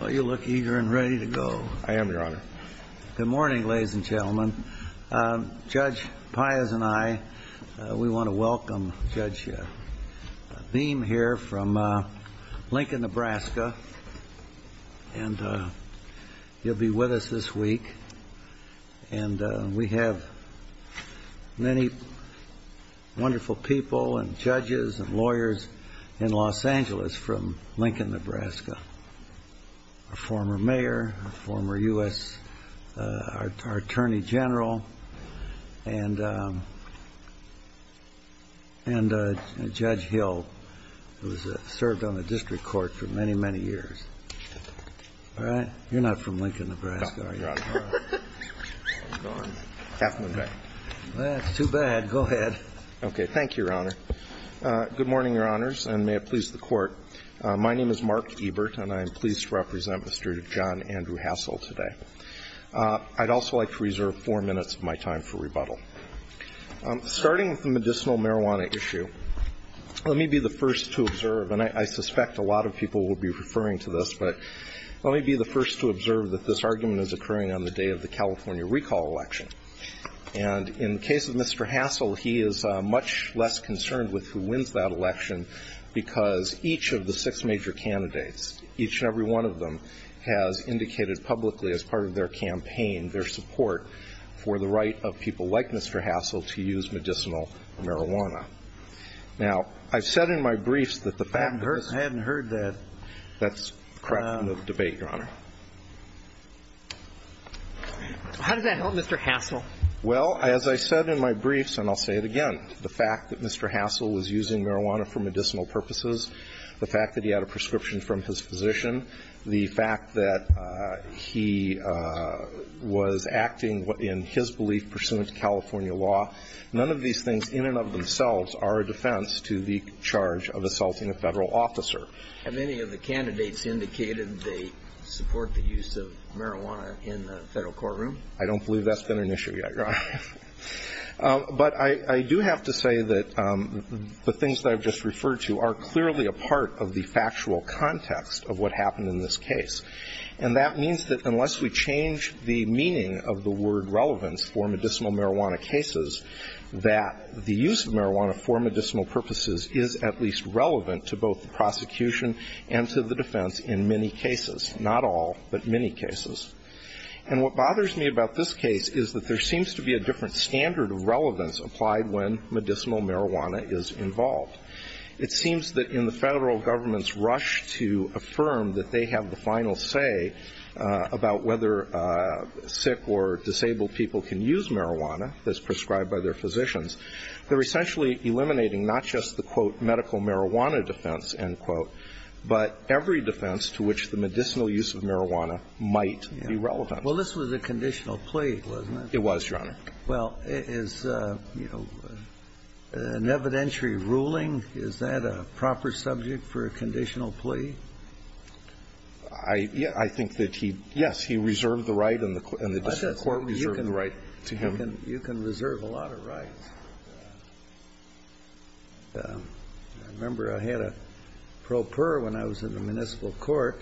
Well, you look eager and ready to go. I am, Your Honor. Good morning, ladies and gentlemen. Judge Pius and I, we want to welcome Judge Beam here from Lincoln, Nebraska. And he'll be with us this week. And we have many wonderful people and judges and lawyers in Los Angeles from Lincoln, Nebraska. He's a former mayor, a former U.S. Attorney General, and Judge Hill, who's served on the district court for many, many years. All right? You're not from Lincoln, Nebraska, are you? No, Your Honor. Well, that's too bad. Go ahead. Okay. Thank you, Your Honor. Good morning, Your Honors, and may it please the Court. My name is Mark Ebert, and I am pleased to represent Mr. John Andrew Hassel today. I'd also like to reserve four minutes of my time for rebuttal. Starting with the medicinal marijuana issue, let me be the first to observe, and I suspect a lot of people will be referring to this, but let me be the first to observe that this argument is occurring on the day of the California recall election. And in the case of Mr. Hassel, he is much less concerned with who wins that election because each of the six major candidates, each and every one of them has indicated publicly as part of their campaign their support for the right of people like Mr. Hassel to use medicinal marijuana. Now, I've said in my briefs that the fact that this— I haven't heard that. That's a question of debate, Your Honor. How did that help Mr. Hassel? Well, as I said in my briefs, and I'll say it again, the fact that Mr. Hassel was using marijuana for medicinal purposes, the fact that he had a prescription from his physician, the fact that he was acting in his belief pursuant to California law, none of these things in and of themselves are a defense to the charge of assaulting a Federal officer. Have any of the candidates indicated they support the use of marijuana in the Federal courtroom? I don't believe that's been an issue yet, Your Honor. But I do have to say that the things that I've just referred to are clearly a part of the factual context of what happened in this case. And that means that unless we change the meaning of the word relevance for medicinal marijuana cases, that the use of marijuana for medicinal purposes is at least relevant to both the prosecution and to the defense in many cases, not all, but many cases. And what bothers me about this case is that there seems to be a different standard of relevance applied when medicinal marijuana is involved. It seems that in the Federal government's rush to affirm that they have the final say about whether sick or disabled people can use marijuana as prescribed by their physicians, they're essentially eliminating not just the, quote, medical marijuana defense, end quote, but every defense to which the medicinal use of marijuana might be relevant. Well, this was a conditional plea, wasn't it? It was, Your Honor. Well, is, you know, an evidentiary ruling, is that a proper subject for a conditional plea? I think that he, yes, he reserved the right and the district court reserved the right to him. You can reserve a lot of rights. I remember I had a pro per when I was in the municipal court,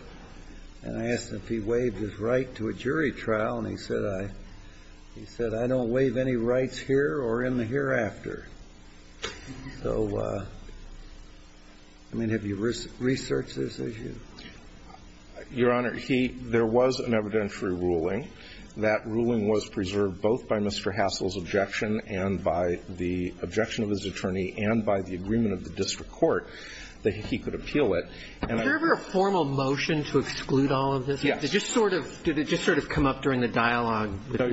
and I asked him if he waived his right to a jury trial, and he said, I don't waive any rights here or in the hereafter. So, I mean, have you researched this issue? Your Honor, he – there was an evidentiary ruling. That ruling was preserved both by Mr. Hassel's objection and by the objection of his attorney and by the agreement of the district court that he could appeal it. And I – Was there ever a formal motion to exclude all of this? Yes. No, Your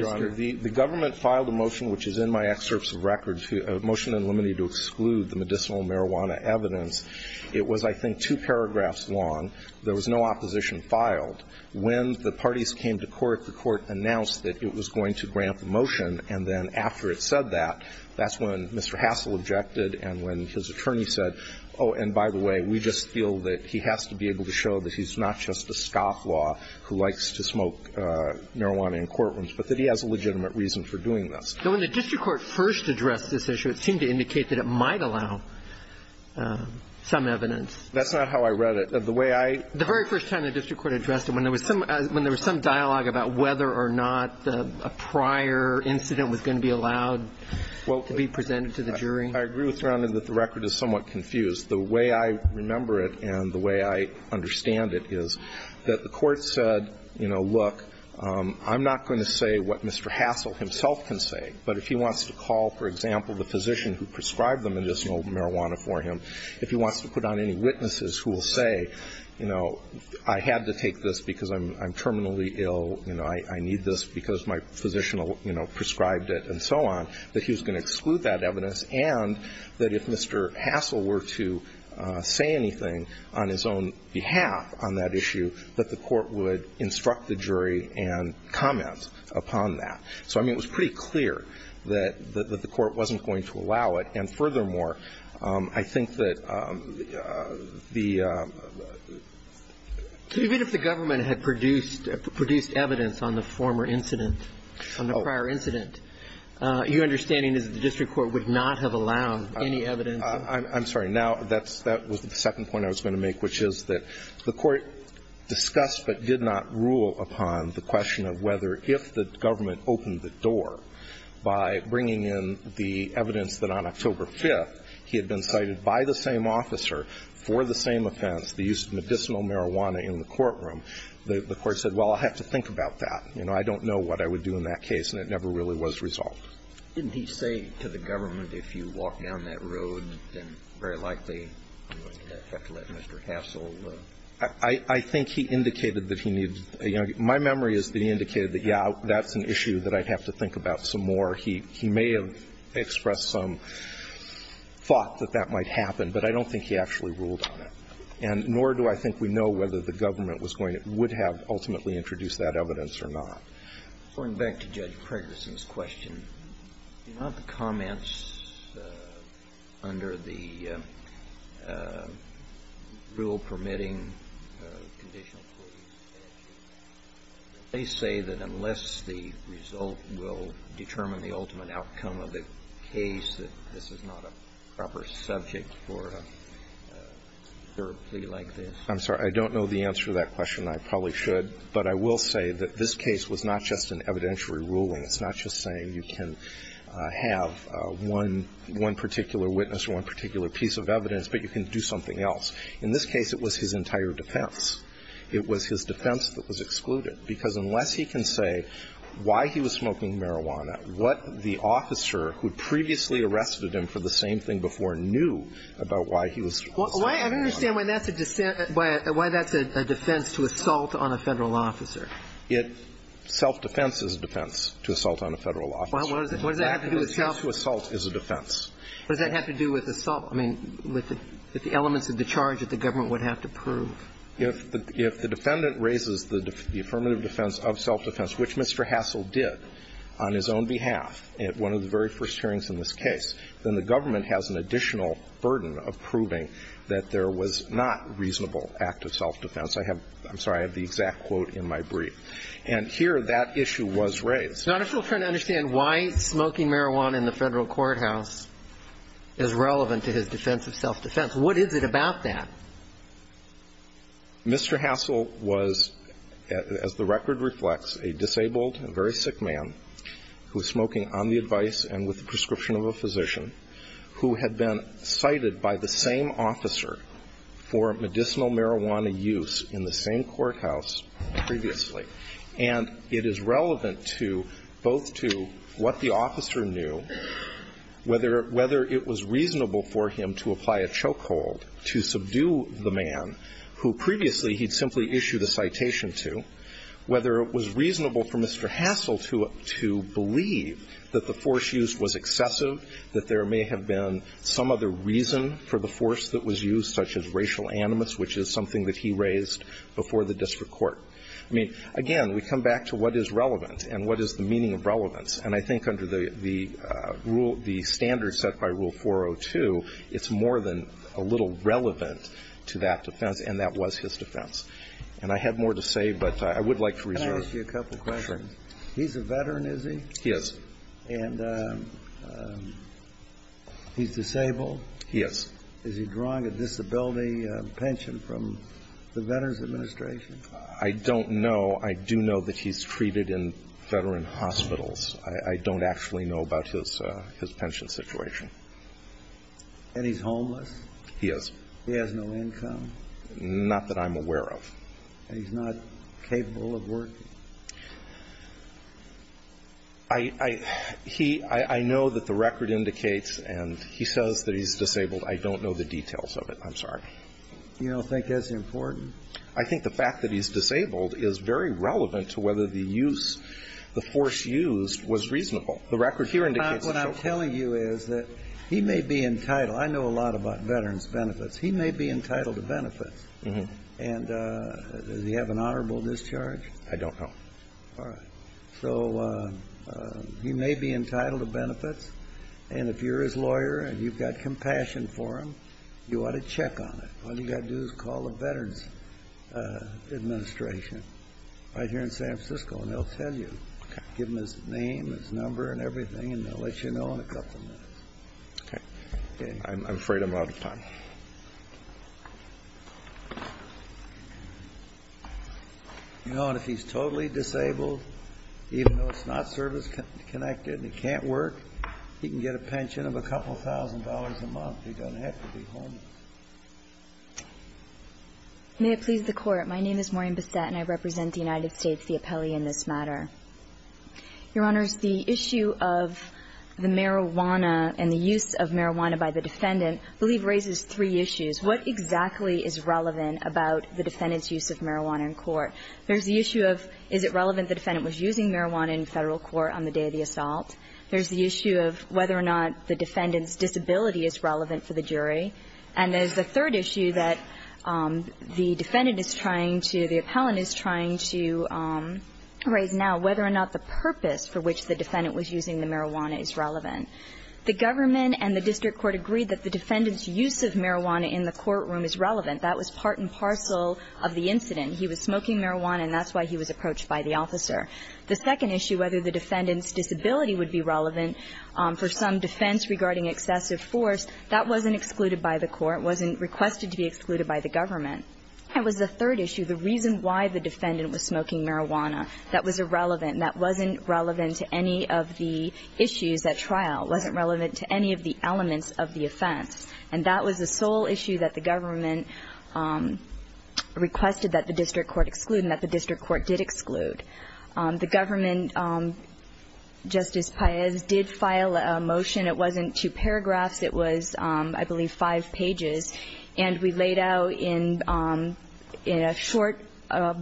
Honor. The government filed a motion, which is in my excerpts of records, a motion in limine to exclude the medicinal marijuana evidence. It was, I think, two paragraphs long. There was no opposition filed. When the parties came to court, the court announced that it was going to grant the motion, and then after it said that, that's when Mr. Hassel objected and when his attorney said, oh, and by the way, we just feel that he has to be able to show that he's not just a scofflaw who likes to smoke marijuana in courtrooms, but that he has a legitimate reason for doing this. When the district court first addressed this issue, it seemed to indicate that it might allow some evidence. That's not how I read it. The way I – The very first time the district court addressed it, when there was some dialogue about whether or not a prior incident was going to be allowed to be presented to the jury. I agree with Your Honor that the record is somewhat confused. The way I remember it and the way I understand it is that the court said, you know, look, I'm not going to say what Mr. Hassel himself can say, but if he wants to call, for example, the physician who prescribed the medicinal marijuana for him, if he wants to put on any witnesses who will say, you know, I had to take this because I'm terminally ill, you know, I need this because my physician, you know, prescribed it and so on, that he was going to exclude that evidence and that if Mr. Hassel were to say anything on his own behalf on that issue, that the court would instruct the jury and comment upon that. So, I mean, it was pretty clear that the court wasn't going to allow it. And furthermore, I think that the – Even if the government had produced evidence on the former incident, on the prior incident, your understanding is that the district court would not have allowed any evidence of that. I'm sorry. Now, that's – that was the second point I was going to make, which is that the court discussed but did not rule upon the question of whether if the government opened the door by bringing in the evidence that on October 5th he had been cited by the same officer for the same offense, the use of medicinal marijuana in the courtroom, the court said, well, I'll have to think about that. You know, I don't know what I would do in that case, and it never really was resolved. Didn't he say to the government, if you walk down that road, then very likely you're going to have to let Mr. Hassel – I think he indicated that he needed – you know, my memory is that he indicated that, yeah, that's an issue that I'd have to think about some more. He may have expressed some thought that that might happen, but I don't think he actually ruled on it. And nor do I think we know whether the government was going to – would have ultimately introduced that evidence or not. Going back to Judge Pregerson's question, do you know if the comments under the rule permitting conditional court, they say that unless the result will determine the ultimate outcome of the case that this is not a proper subject for a jury trial or a plea like this? I'm sorry. I don't know the answer to that question. I probably should. But I will say that this case was not just an evidentiary ruling. It's not just saying you can have one – one particular witness or one particular piece of evidence, but you can do something else. In this case, it was his entire defense. It was his defense that was excluded, because unless he can say why he was smoking marijuana, what the officer who previously arrested him for the same thing before knew about why he was smoking marijuana. Well, I don't understand why that's a defense to assault on a Federal officer. It – self-defense is a defense to assault on a Federal officer. What does that have to do with self – Self-assault is a defense. What does that have to do with assault? I mean, with the elements of the charge that the government would have to prove. If the defendant raises the affirmative defense of self-defense, which Mr. Hassel did on his own behalf at one of the very first hearings in this case, then the government has an additional burden of proving that there was not reasonable act of self-defense. I have – I'm sorry. I have the exact quote in my brief. And here, that issue was raised. Your Honor, I'm still trying to understand why smoking marijuana in the Federal courthouse is relevant to his defense of self-defense. What is it about that? Mr. Hassel was, as the record reflects, a disabled and very sick man who was smoking on the advice and with the prescription of a physician, who had been cited by the same officer for medicinal marijuana use in the same courthouse previously. And it is relevant to – both to what the officer knew, whether it was reasonable for him to apply a chokehold to subdue the man who previously he'd simply issued a citation to, whether it was reasonable for Mr. Hassel to believe that the force used was excessive, that there may have been some other reason for the force that was used, such as racial animus, which is something that he raised before the district court. I mean, again, we come back to what is relevant and what is the meaning of relevance. And I think under the rule – the standard set by Rule 402, it's more than a little relevant to that defense, and that was his defense. And I had more to say, but I would like to reserve it. Can I ask you a couple questions? Sure. He's a veteran, is he? He is. And he's disabled? He is. Is he drawing a disability pension from the Veterans Administration? I don't know. I do know that he's treated in veteran hospitals. I don't actually know about his pension situation. And he's homeless? He is. He has no income? Not that I'm aware of. And he's not capable of working? I – he – I know that the record indicates, and he says that he's disabled. I don't know the details of it. I'm sorry. You don't think that's important? I think the fact that he's disabled is very relevant to whether the use – the force used was reasonable. The record here indicates it's not. What I'm telling you is that he may be entitled – I know a lot about veterans' benefits. He may be entitled to benefits. Mm-hmm. And does he have an honorable discharge? I don't know. All right. So he may be entitled to benefits, and if you're his lawyer and you've got compassion for him, you ought to check on it. All you've got to do is call the Veterans Administration right here in San Francisco, and they'll tell you. Okay. Give them his name, his number, and everything, and they'll let you know in a couple minutes. Okay. I'm afraid I'm out of time. You know, and if he's totally disabled, even though it's not service-connected and he can't work, he can get a pension of a couple thousand dollars a month. He doesn't have to be homeless. May it please the Court. My name is Maureen Bissett, and I represent the United States, the appellee in this matter. Your Honors, the issue of the marijuana and the use of marijuana by the defendant I believe raises three issues. What exactly is relevant about the defendant's use of marijuana in court? There's the issue of is it relevant the defendant was using marijuana in Federal court on the day of the assault? There's the issue of whether or not the defendant's disability is relevant for the jury. And there's a third issue that the defendant is trying to, the appellant is trying to raise now, whether or not the purpose for which the defendant was using the marijuana is relevant. The government and the district court agreed that the defendant's use of marijuana in the courtroom is relevant. That was part and parcel of the incident. He was smoking marijuana, and that's why he was approached by the officer. The second issue, whether the defendant's disability would be relevant for some defense regarding excessive force, that wasn't excluded by the court. It wasn't requested to be excluded by the government. And it was the third issue, the reason why the defendant was smoking marijuana. That was irrelevant. That wasn't relevant to any of the issues at trial. It wasn't relevant to any of the elements of the offense. And that was the sole issue that the government requested that the district court exclude and that the district court did exclude. The government, Justice Paez, did file a motion. It wasn't two paragraphs. It was, I believe, five pages. And we laid out in a short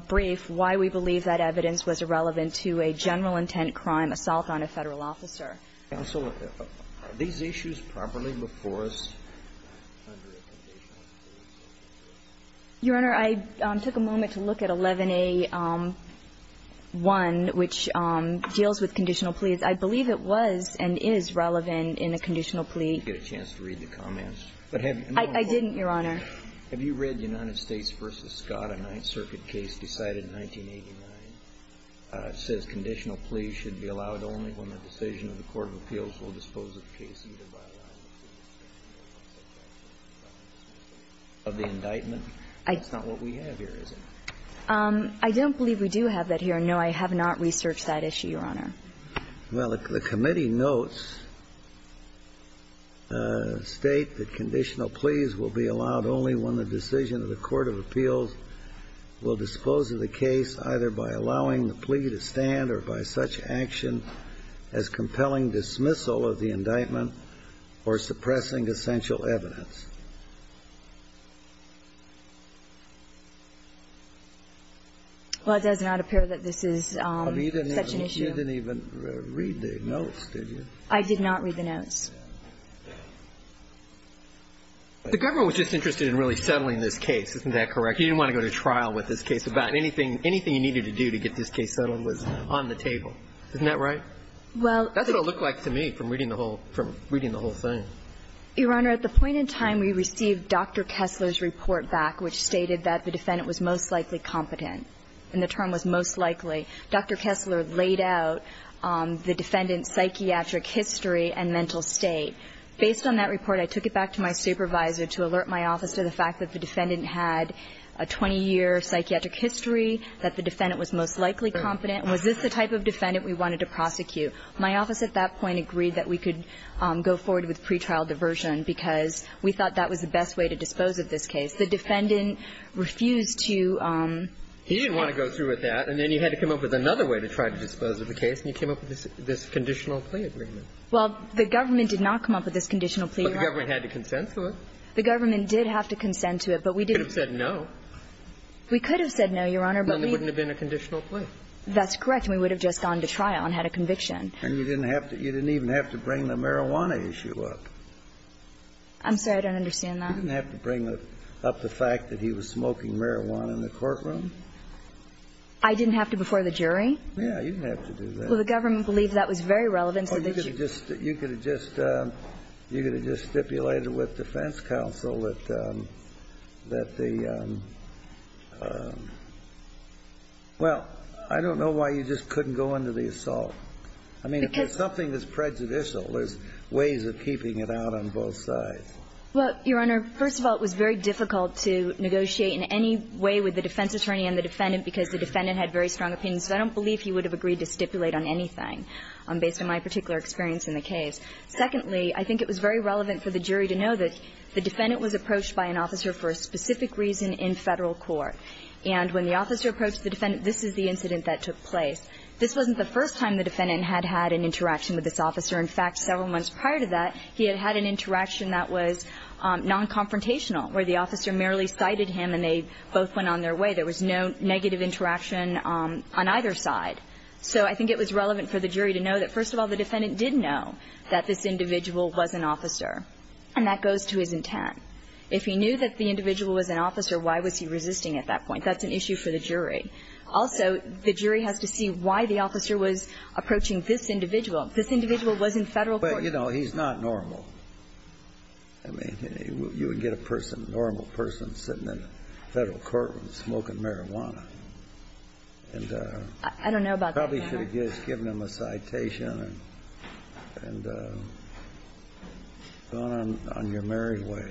brief why we believe that evidence was irrelevant to a general intent crime, assault on a Federal officer. Counsel, are these issues properly before us? Your Honor, I took a moment to look at 11A1, which deals with conditional pleas. I believe it was and is relevant in a conditional plea. Did you get a chance to read the comments? I didn't, Your Honor. Have you read United States v. Scott, a Ninth Circuit case decided in 1989? It says conditional pleas should be allowed only when the decision of the court of appeals will dispose of the case, either by allowing the plea to stand or by such action as compelling dismissal of the indictment. That's not what we have here, is it? I don't believe we do have that here. No, I have not researched that issue, Your Honor. Well, the committee notes, State, that conditional pleas will be allowed only when the decision of the court of appeals will dispose of the case, either by allowing the plea to stand or by such action as compelling dismissal of the indictment or suppressing essential evidence. Well, it does not appear that this is such an issue. You didn't even read the notes, did you? I did not read the notes. The government was just interested in really settling this case. Isn't that correct? You didn't want to go to trial with this case. About anything you needed to do to get this case settled was on the table. Isn't that right? Well. That's what it looked like to me from reading the whole thing. Your Honor, at the point in time we received Dr. Kessler's report back which stated that the defendant was most likely competent and the term was most likely. Dr. Kessler laid out the defendant's psychiatric history and mental state. Based on that report, I took it back to my supervisor to alert my office to the fact that the defendant had a 20-year psychiatric history, that the defendant was most likely competent. Was this the type of defendant we wanted to prosecute? My office at that point agreed that we could go forward with pretrial diversion because we thought that was the best way to dispose of this case. The defendant refused to have that. He didn't want to go through with that, and then you had to come up with another way to try to dispose of the case, and you came up with this conditional plea agreement. Well, the government did not come up with this conditional plea. But the government had to consensual it. The government did have to consent to it, but we didn't. You could have said no. We could have said no, Your Honor, but we didn't. Then there wouldn't have been a conditional plea. That's correct. We would have just gone to trial and had a conviction. And you didn't have to – you didn't even have to bring the marijuana issue up. I'm sorry. I don't understand that. You didn't have to bring up the fact that he was smoking marijuana in the courtroom. I didn't have to before the jury? You didn't have to do that. Well, the government believed that was very relevant. Well, you could have just stipulated with defense counsel that the – well, I don't know why you just couldn't go into the assault. Because – I mean, if there's something that's prejudicial, there's ways of keeping it out on both sides. Well, Your Honor, first of all, it was very difficult to negotiate in any way with the defense attorney and the defendant because the defendant had very strong opinions. I don't believe he would have agreed to stipulate on anything based on my particular experience in the case. Secondly, I think it was very relevant for the jury to know that the defendant was approached by an officer for a specific reason in Federal court. And when the officer approached the defendant, this is the incident that took place. This wasn't the first time the defendant had had an interaction with this officer. In fact, several months prior to that, he had had an interaction that was non-confrontational where the officer merely cited him and they both went on their way. There was no negative interaction on either side. So I think it was relevant for the jury to know that, first of all, the defendant did know that this individual was an officer, and that goes to his intent. If he knew that the individual was an officer, why was he resisting at that point? That's an issue for the jury. Also, the jury has to see why the officer was approaching this individual. This individual was in Federal court. But, you know, he's not normal. I mean, you would get a person, a normal person, sitting in a Federal courtroom smoking marijuana. And probably should have just given him a citation and gone on your merry way.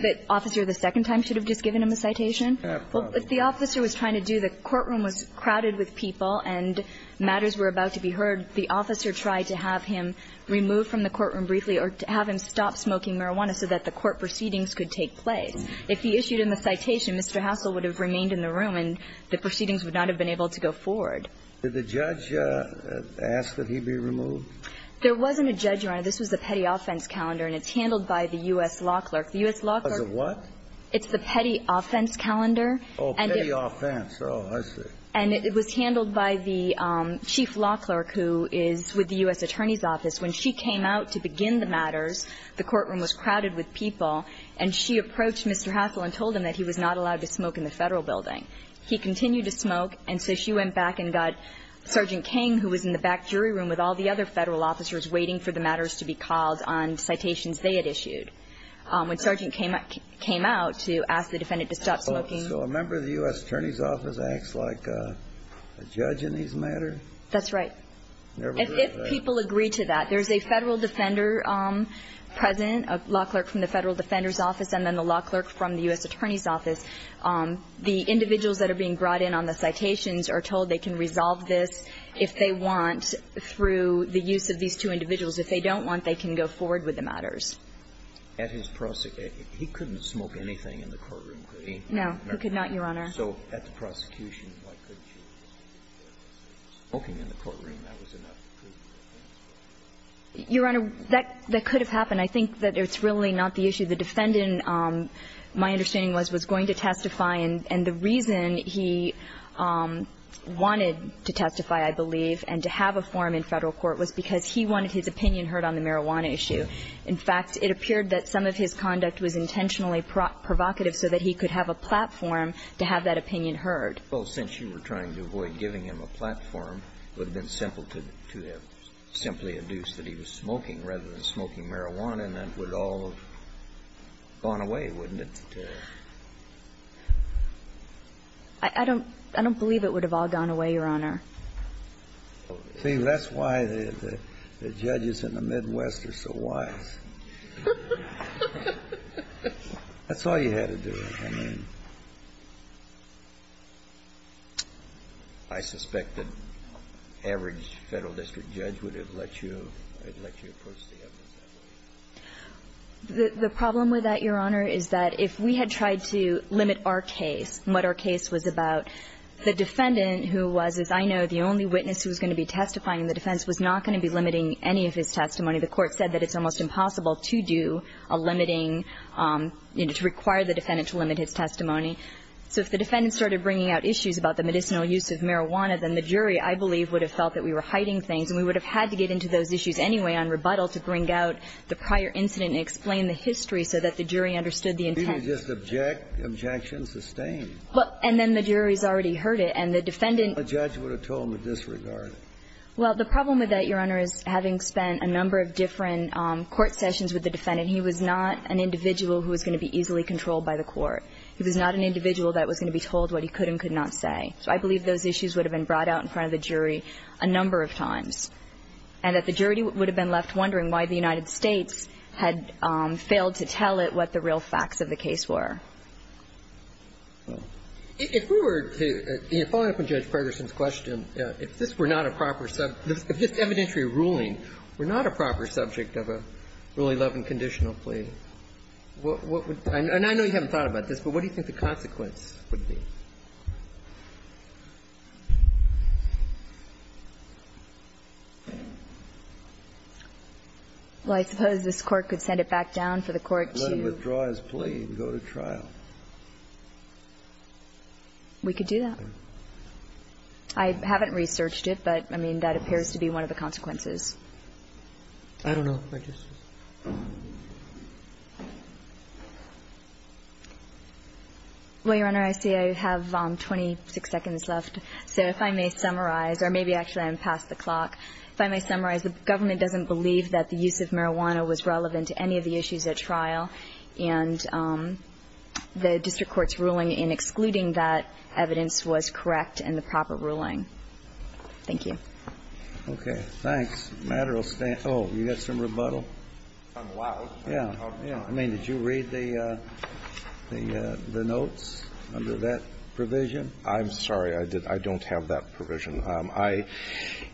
But the officer the second time should have just given him a citation? Probably. Well, what the officer was trying to do, the courtroom was crowded with people and matters were about to be heard. The officer tried to have him removed from the courtroom briefly or to have him stop smoking marijuana so that the court proceedings could take place. If he issued him a citation, Mr. Hassel would have remained in the room and the proceedings would not have been able to go forward. Did the judge ask that he be removed? There wasn't a judge, Your Honor. This was the petty offense calendar, and it's handled by the U.S. law clerk. The U.S. law clerk. Was it what? It's the petty offense calendar. Oh, petty offense. Oh, I see. And it was handled by the chief law clerk who is with the U.S. attorney's office. When she came out to begin the matters, the courtroom was crowded with people, and she approached Mr. Hassel and told him that he was not allowed to smoke in the Federal building. He continued to smoke, and so she went back and got Sergeant King, who was in the back jury room with all the other Federal officers waiting for the matters to be called on citations they had issued. When Sergeant King came out to ask the defendant to stop smoking. So a member of the U.S. attorney's office acts like a judge in these matters? That's right. If people agree to that. There's a Federal defender present, a law clerk from the Federal defender's office, and then the law clerk from the U.S. attorney's office. The individuals that are being brought in on the citations are told they can resolve this if they want through the use of these two individuals. If they don't want, they can go forward with the matters. At his prosecution, he couldn't smoke anything in the courtroom, could he? No, he could not, Your Honor. So at the prosecution, why couldn't he? Smoking in the courtroom, that was enough. Your Honor, that could have happened. I think that it's really not the issue. The defendant, my understanding was, was going to testify, and the reason he wanted to testify, I believe, and to have a forum in Federal court was because he wanted his opinion heard on the marijuana issue. In fact, it appeared that some of his conduct was intentionally provocative so that he could have a platform to have that opinion heard. Well, since you were trying to avoid giving him a platform, it would have been simple to have simply adduced that he was smoking rather than smoking marijuana, and that would all have gone away, wouldn't it? I don't believe it would have all gone away, Your Honor. See, that's why the judges in the Midwest are so wise. That's all you had to do. I mean, I suspect that average Federal district judge would have let you approach the evidence that way. The problem with that, Your Honor, is that if we had tried to limit our case and what our case was about, the defendant, who was, as I know, the only witness who was going to be testifying in the defense, was not going to be limiting any of his testimony. The Court said that it's almost impossible to do a limiting, you know, to require the defendant to limit his testimony. So if the defendant started bringing out issues about the medicinal use of marijuana, then the jury, I believe, would have felt that we were hiding things, and we would have had to get into those issues anyway on rebuttal to bring out the prior incident and explain the history so that the jury understood the intent. So you just object, objection sustained. Well, and then the jury's already heard it, and the defendant… The judge would have told him to disregard it. Well, the problem with that, Your Honor, is having spent a number of different court sessions with the defendant, he was not an individual who was going to be easily controlled by the Court. He was not an individual that was going to be told what he could and could not say. So I believe those issues would have been brought out in front of the jury a number of times, and that the jury would have been left wondering why the United States had failed to tell it what the real facts of the case were. If we were to – following up on Judge Ferguson's question, if this were not a proper – if this evidentiary ruling were not a proper subject of a Rule 11 conditional plea, what would – and I know you haven't thought about this, but what do you think the consequence would be? Well, I suppose this Court could send it back down for the Court to… Let him withdraw his plea and go to trial. We could do that. I haven't researched it, but, I mean, that appears to be one of the consequences. I don't know. Well, Your Honor, I see I have 26 seconds left. So if I may summarize – or maybe actually I'm past the clock. If I may summarize, the government doesn't believe that the use of marijuana was relevant to any of the issues at trial, and the district court's ruling in excluding that evidence was correct in the proper ruling. Thank you. Okay. Thanks. The matter will stand – oh, you got some rebuttal? I'm loud. Yeah. I mean, did you read the notes under that provision? I'm sorry. I don't have that provision. I –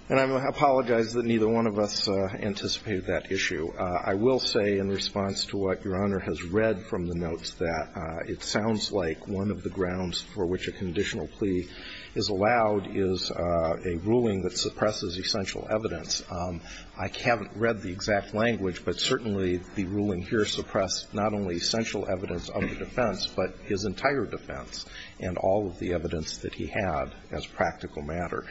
and I apologize that neither one of us anticipated that issue. I will say in response to what Your Honor has read from the notes that it sounds like one of the grounds for which a conditional plea is allowed is a ruling that I haven't read the exact language, but certainly the ruling here suppressed not only essential evidence of the defense, but his entire defense and all of the evidence that he had as practical matter.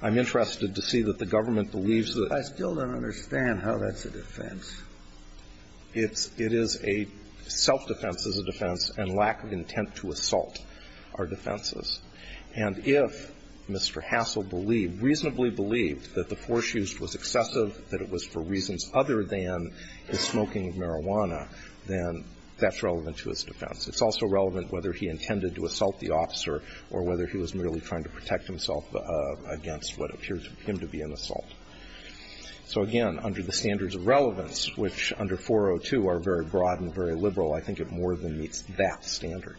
I'm interested to see that the government believes that – I still don't understand how that's a defense. It's – it is a – self-defense is a defense and lack of intent to assault are defenses. And if Mr. Hassel believed, reasonably believed, that the force used was excessive, that it was for reasons other than the smoking of marijuana, then that's relevant to his defense. It's also relevant whether he intended to assault the officer or whether he was merely trying to protect himself against what appears to him to be an assault. So, again, under the standards of relevance, which under 402 are very broad and very liberal, I think it more than meets that standard.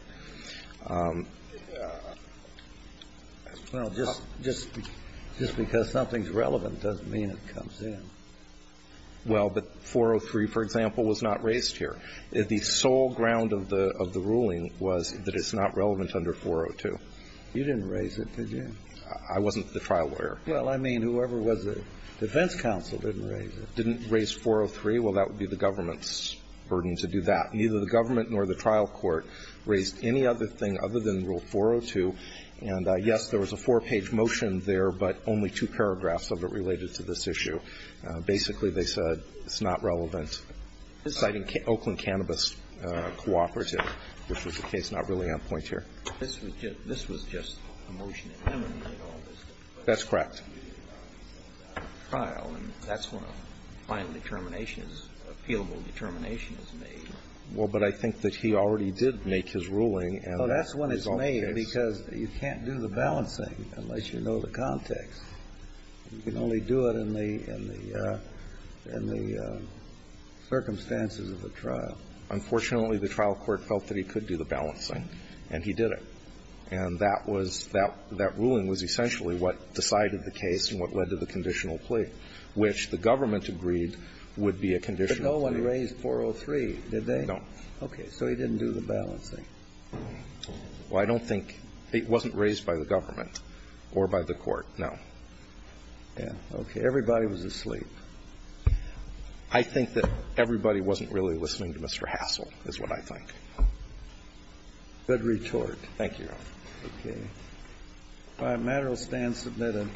Well, just because something's relevant doesn't mean it comes in. Well, but 403, for example, was not raised here. The sole ground of the ruling was that it's not relevant under 402. You didn't raise it, did you? I wasn't the trial lawyer. Well, I mean, whoever was the defense counsel didn't raise it. Didn't raise 403? Well, that would be the government's burden to do that. Neither the government nor the trial court raised any other thing other than Rule 402. And, yes, there was a four-page motion there, but only two paragraphs of it related to this issue. Basically, they said it's not relevant, citing Oakland Cannabis Cooperative, which was the case not really on point here. This was just a motion to eliminate all this? That's correct. Well, but I think that he already did make his ruling. Well, that's when it's made because you can't do the balancing unless you know the context. You can only do it in the circumstances of the trial. Unfortunately, the trial court felt that he could do the balancing, and he did it. And that was that ruling was essentially what decided the case and what led to the conditional plea, which the government agreed would be a conditional plea. But no one raised 403, did they? No. Okay. So he didn't do the balancing. Well, I don't think it wasn't raised by the government or by the court, no. Yeah. Okay. Everybody was asleep. I think that everybody wasn't really listening to Mr. Hassel is what I think. Good retort. Thank you, Your Honor. Okay. The matter will stand submitted.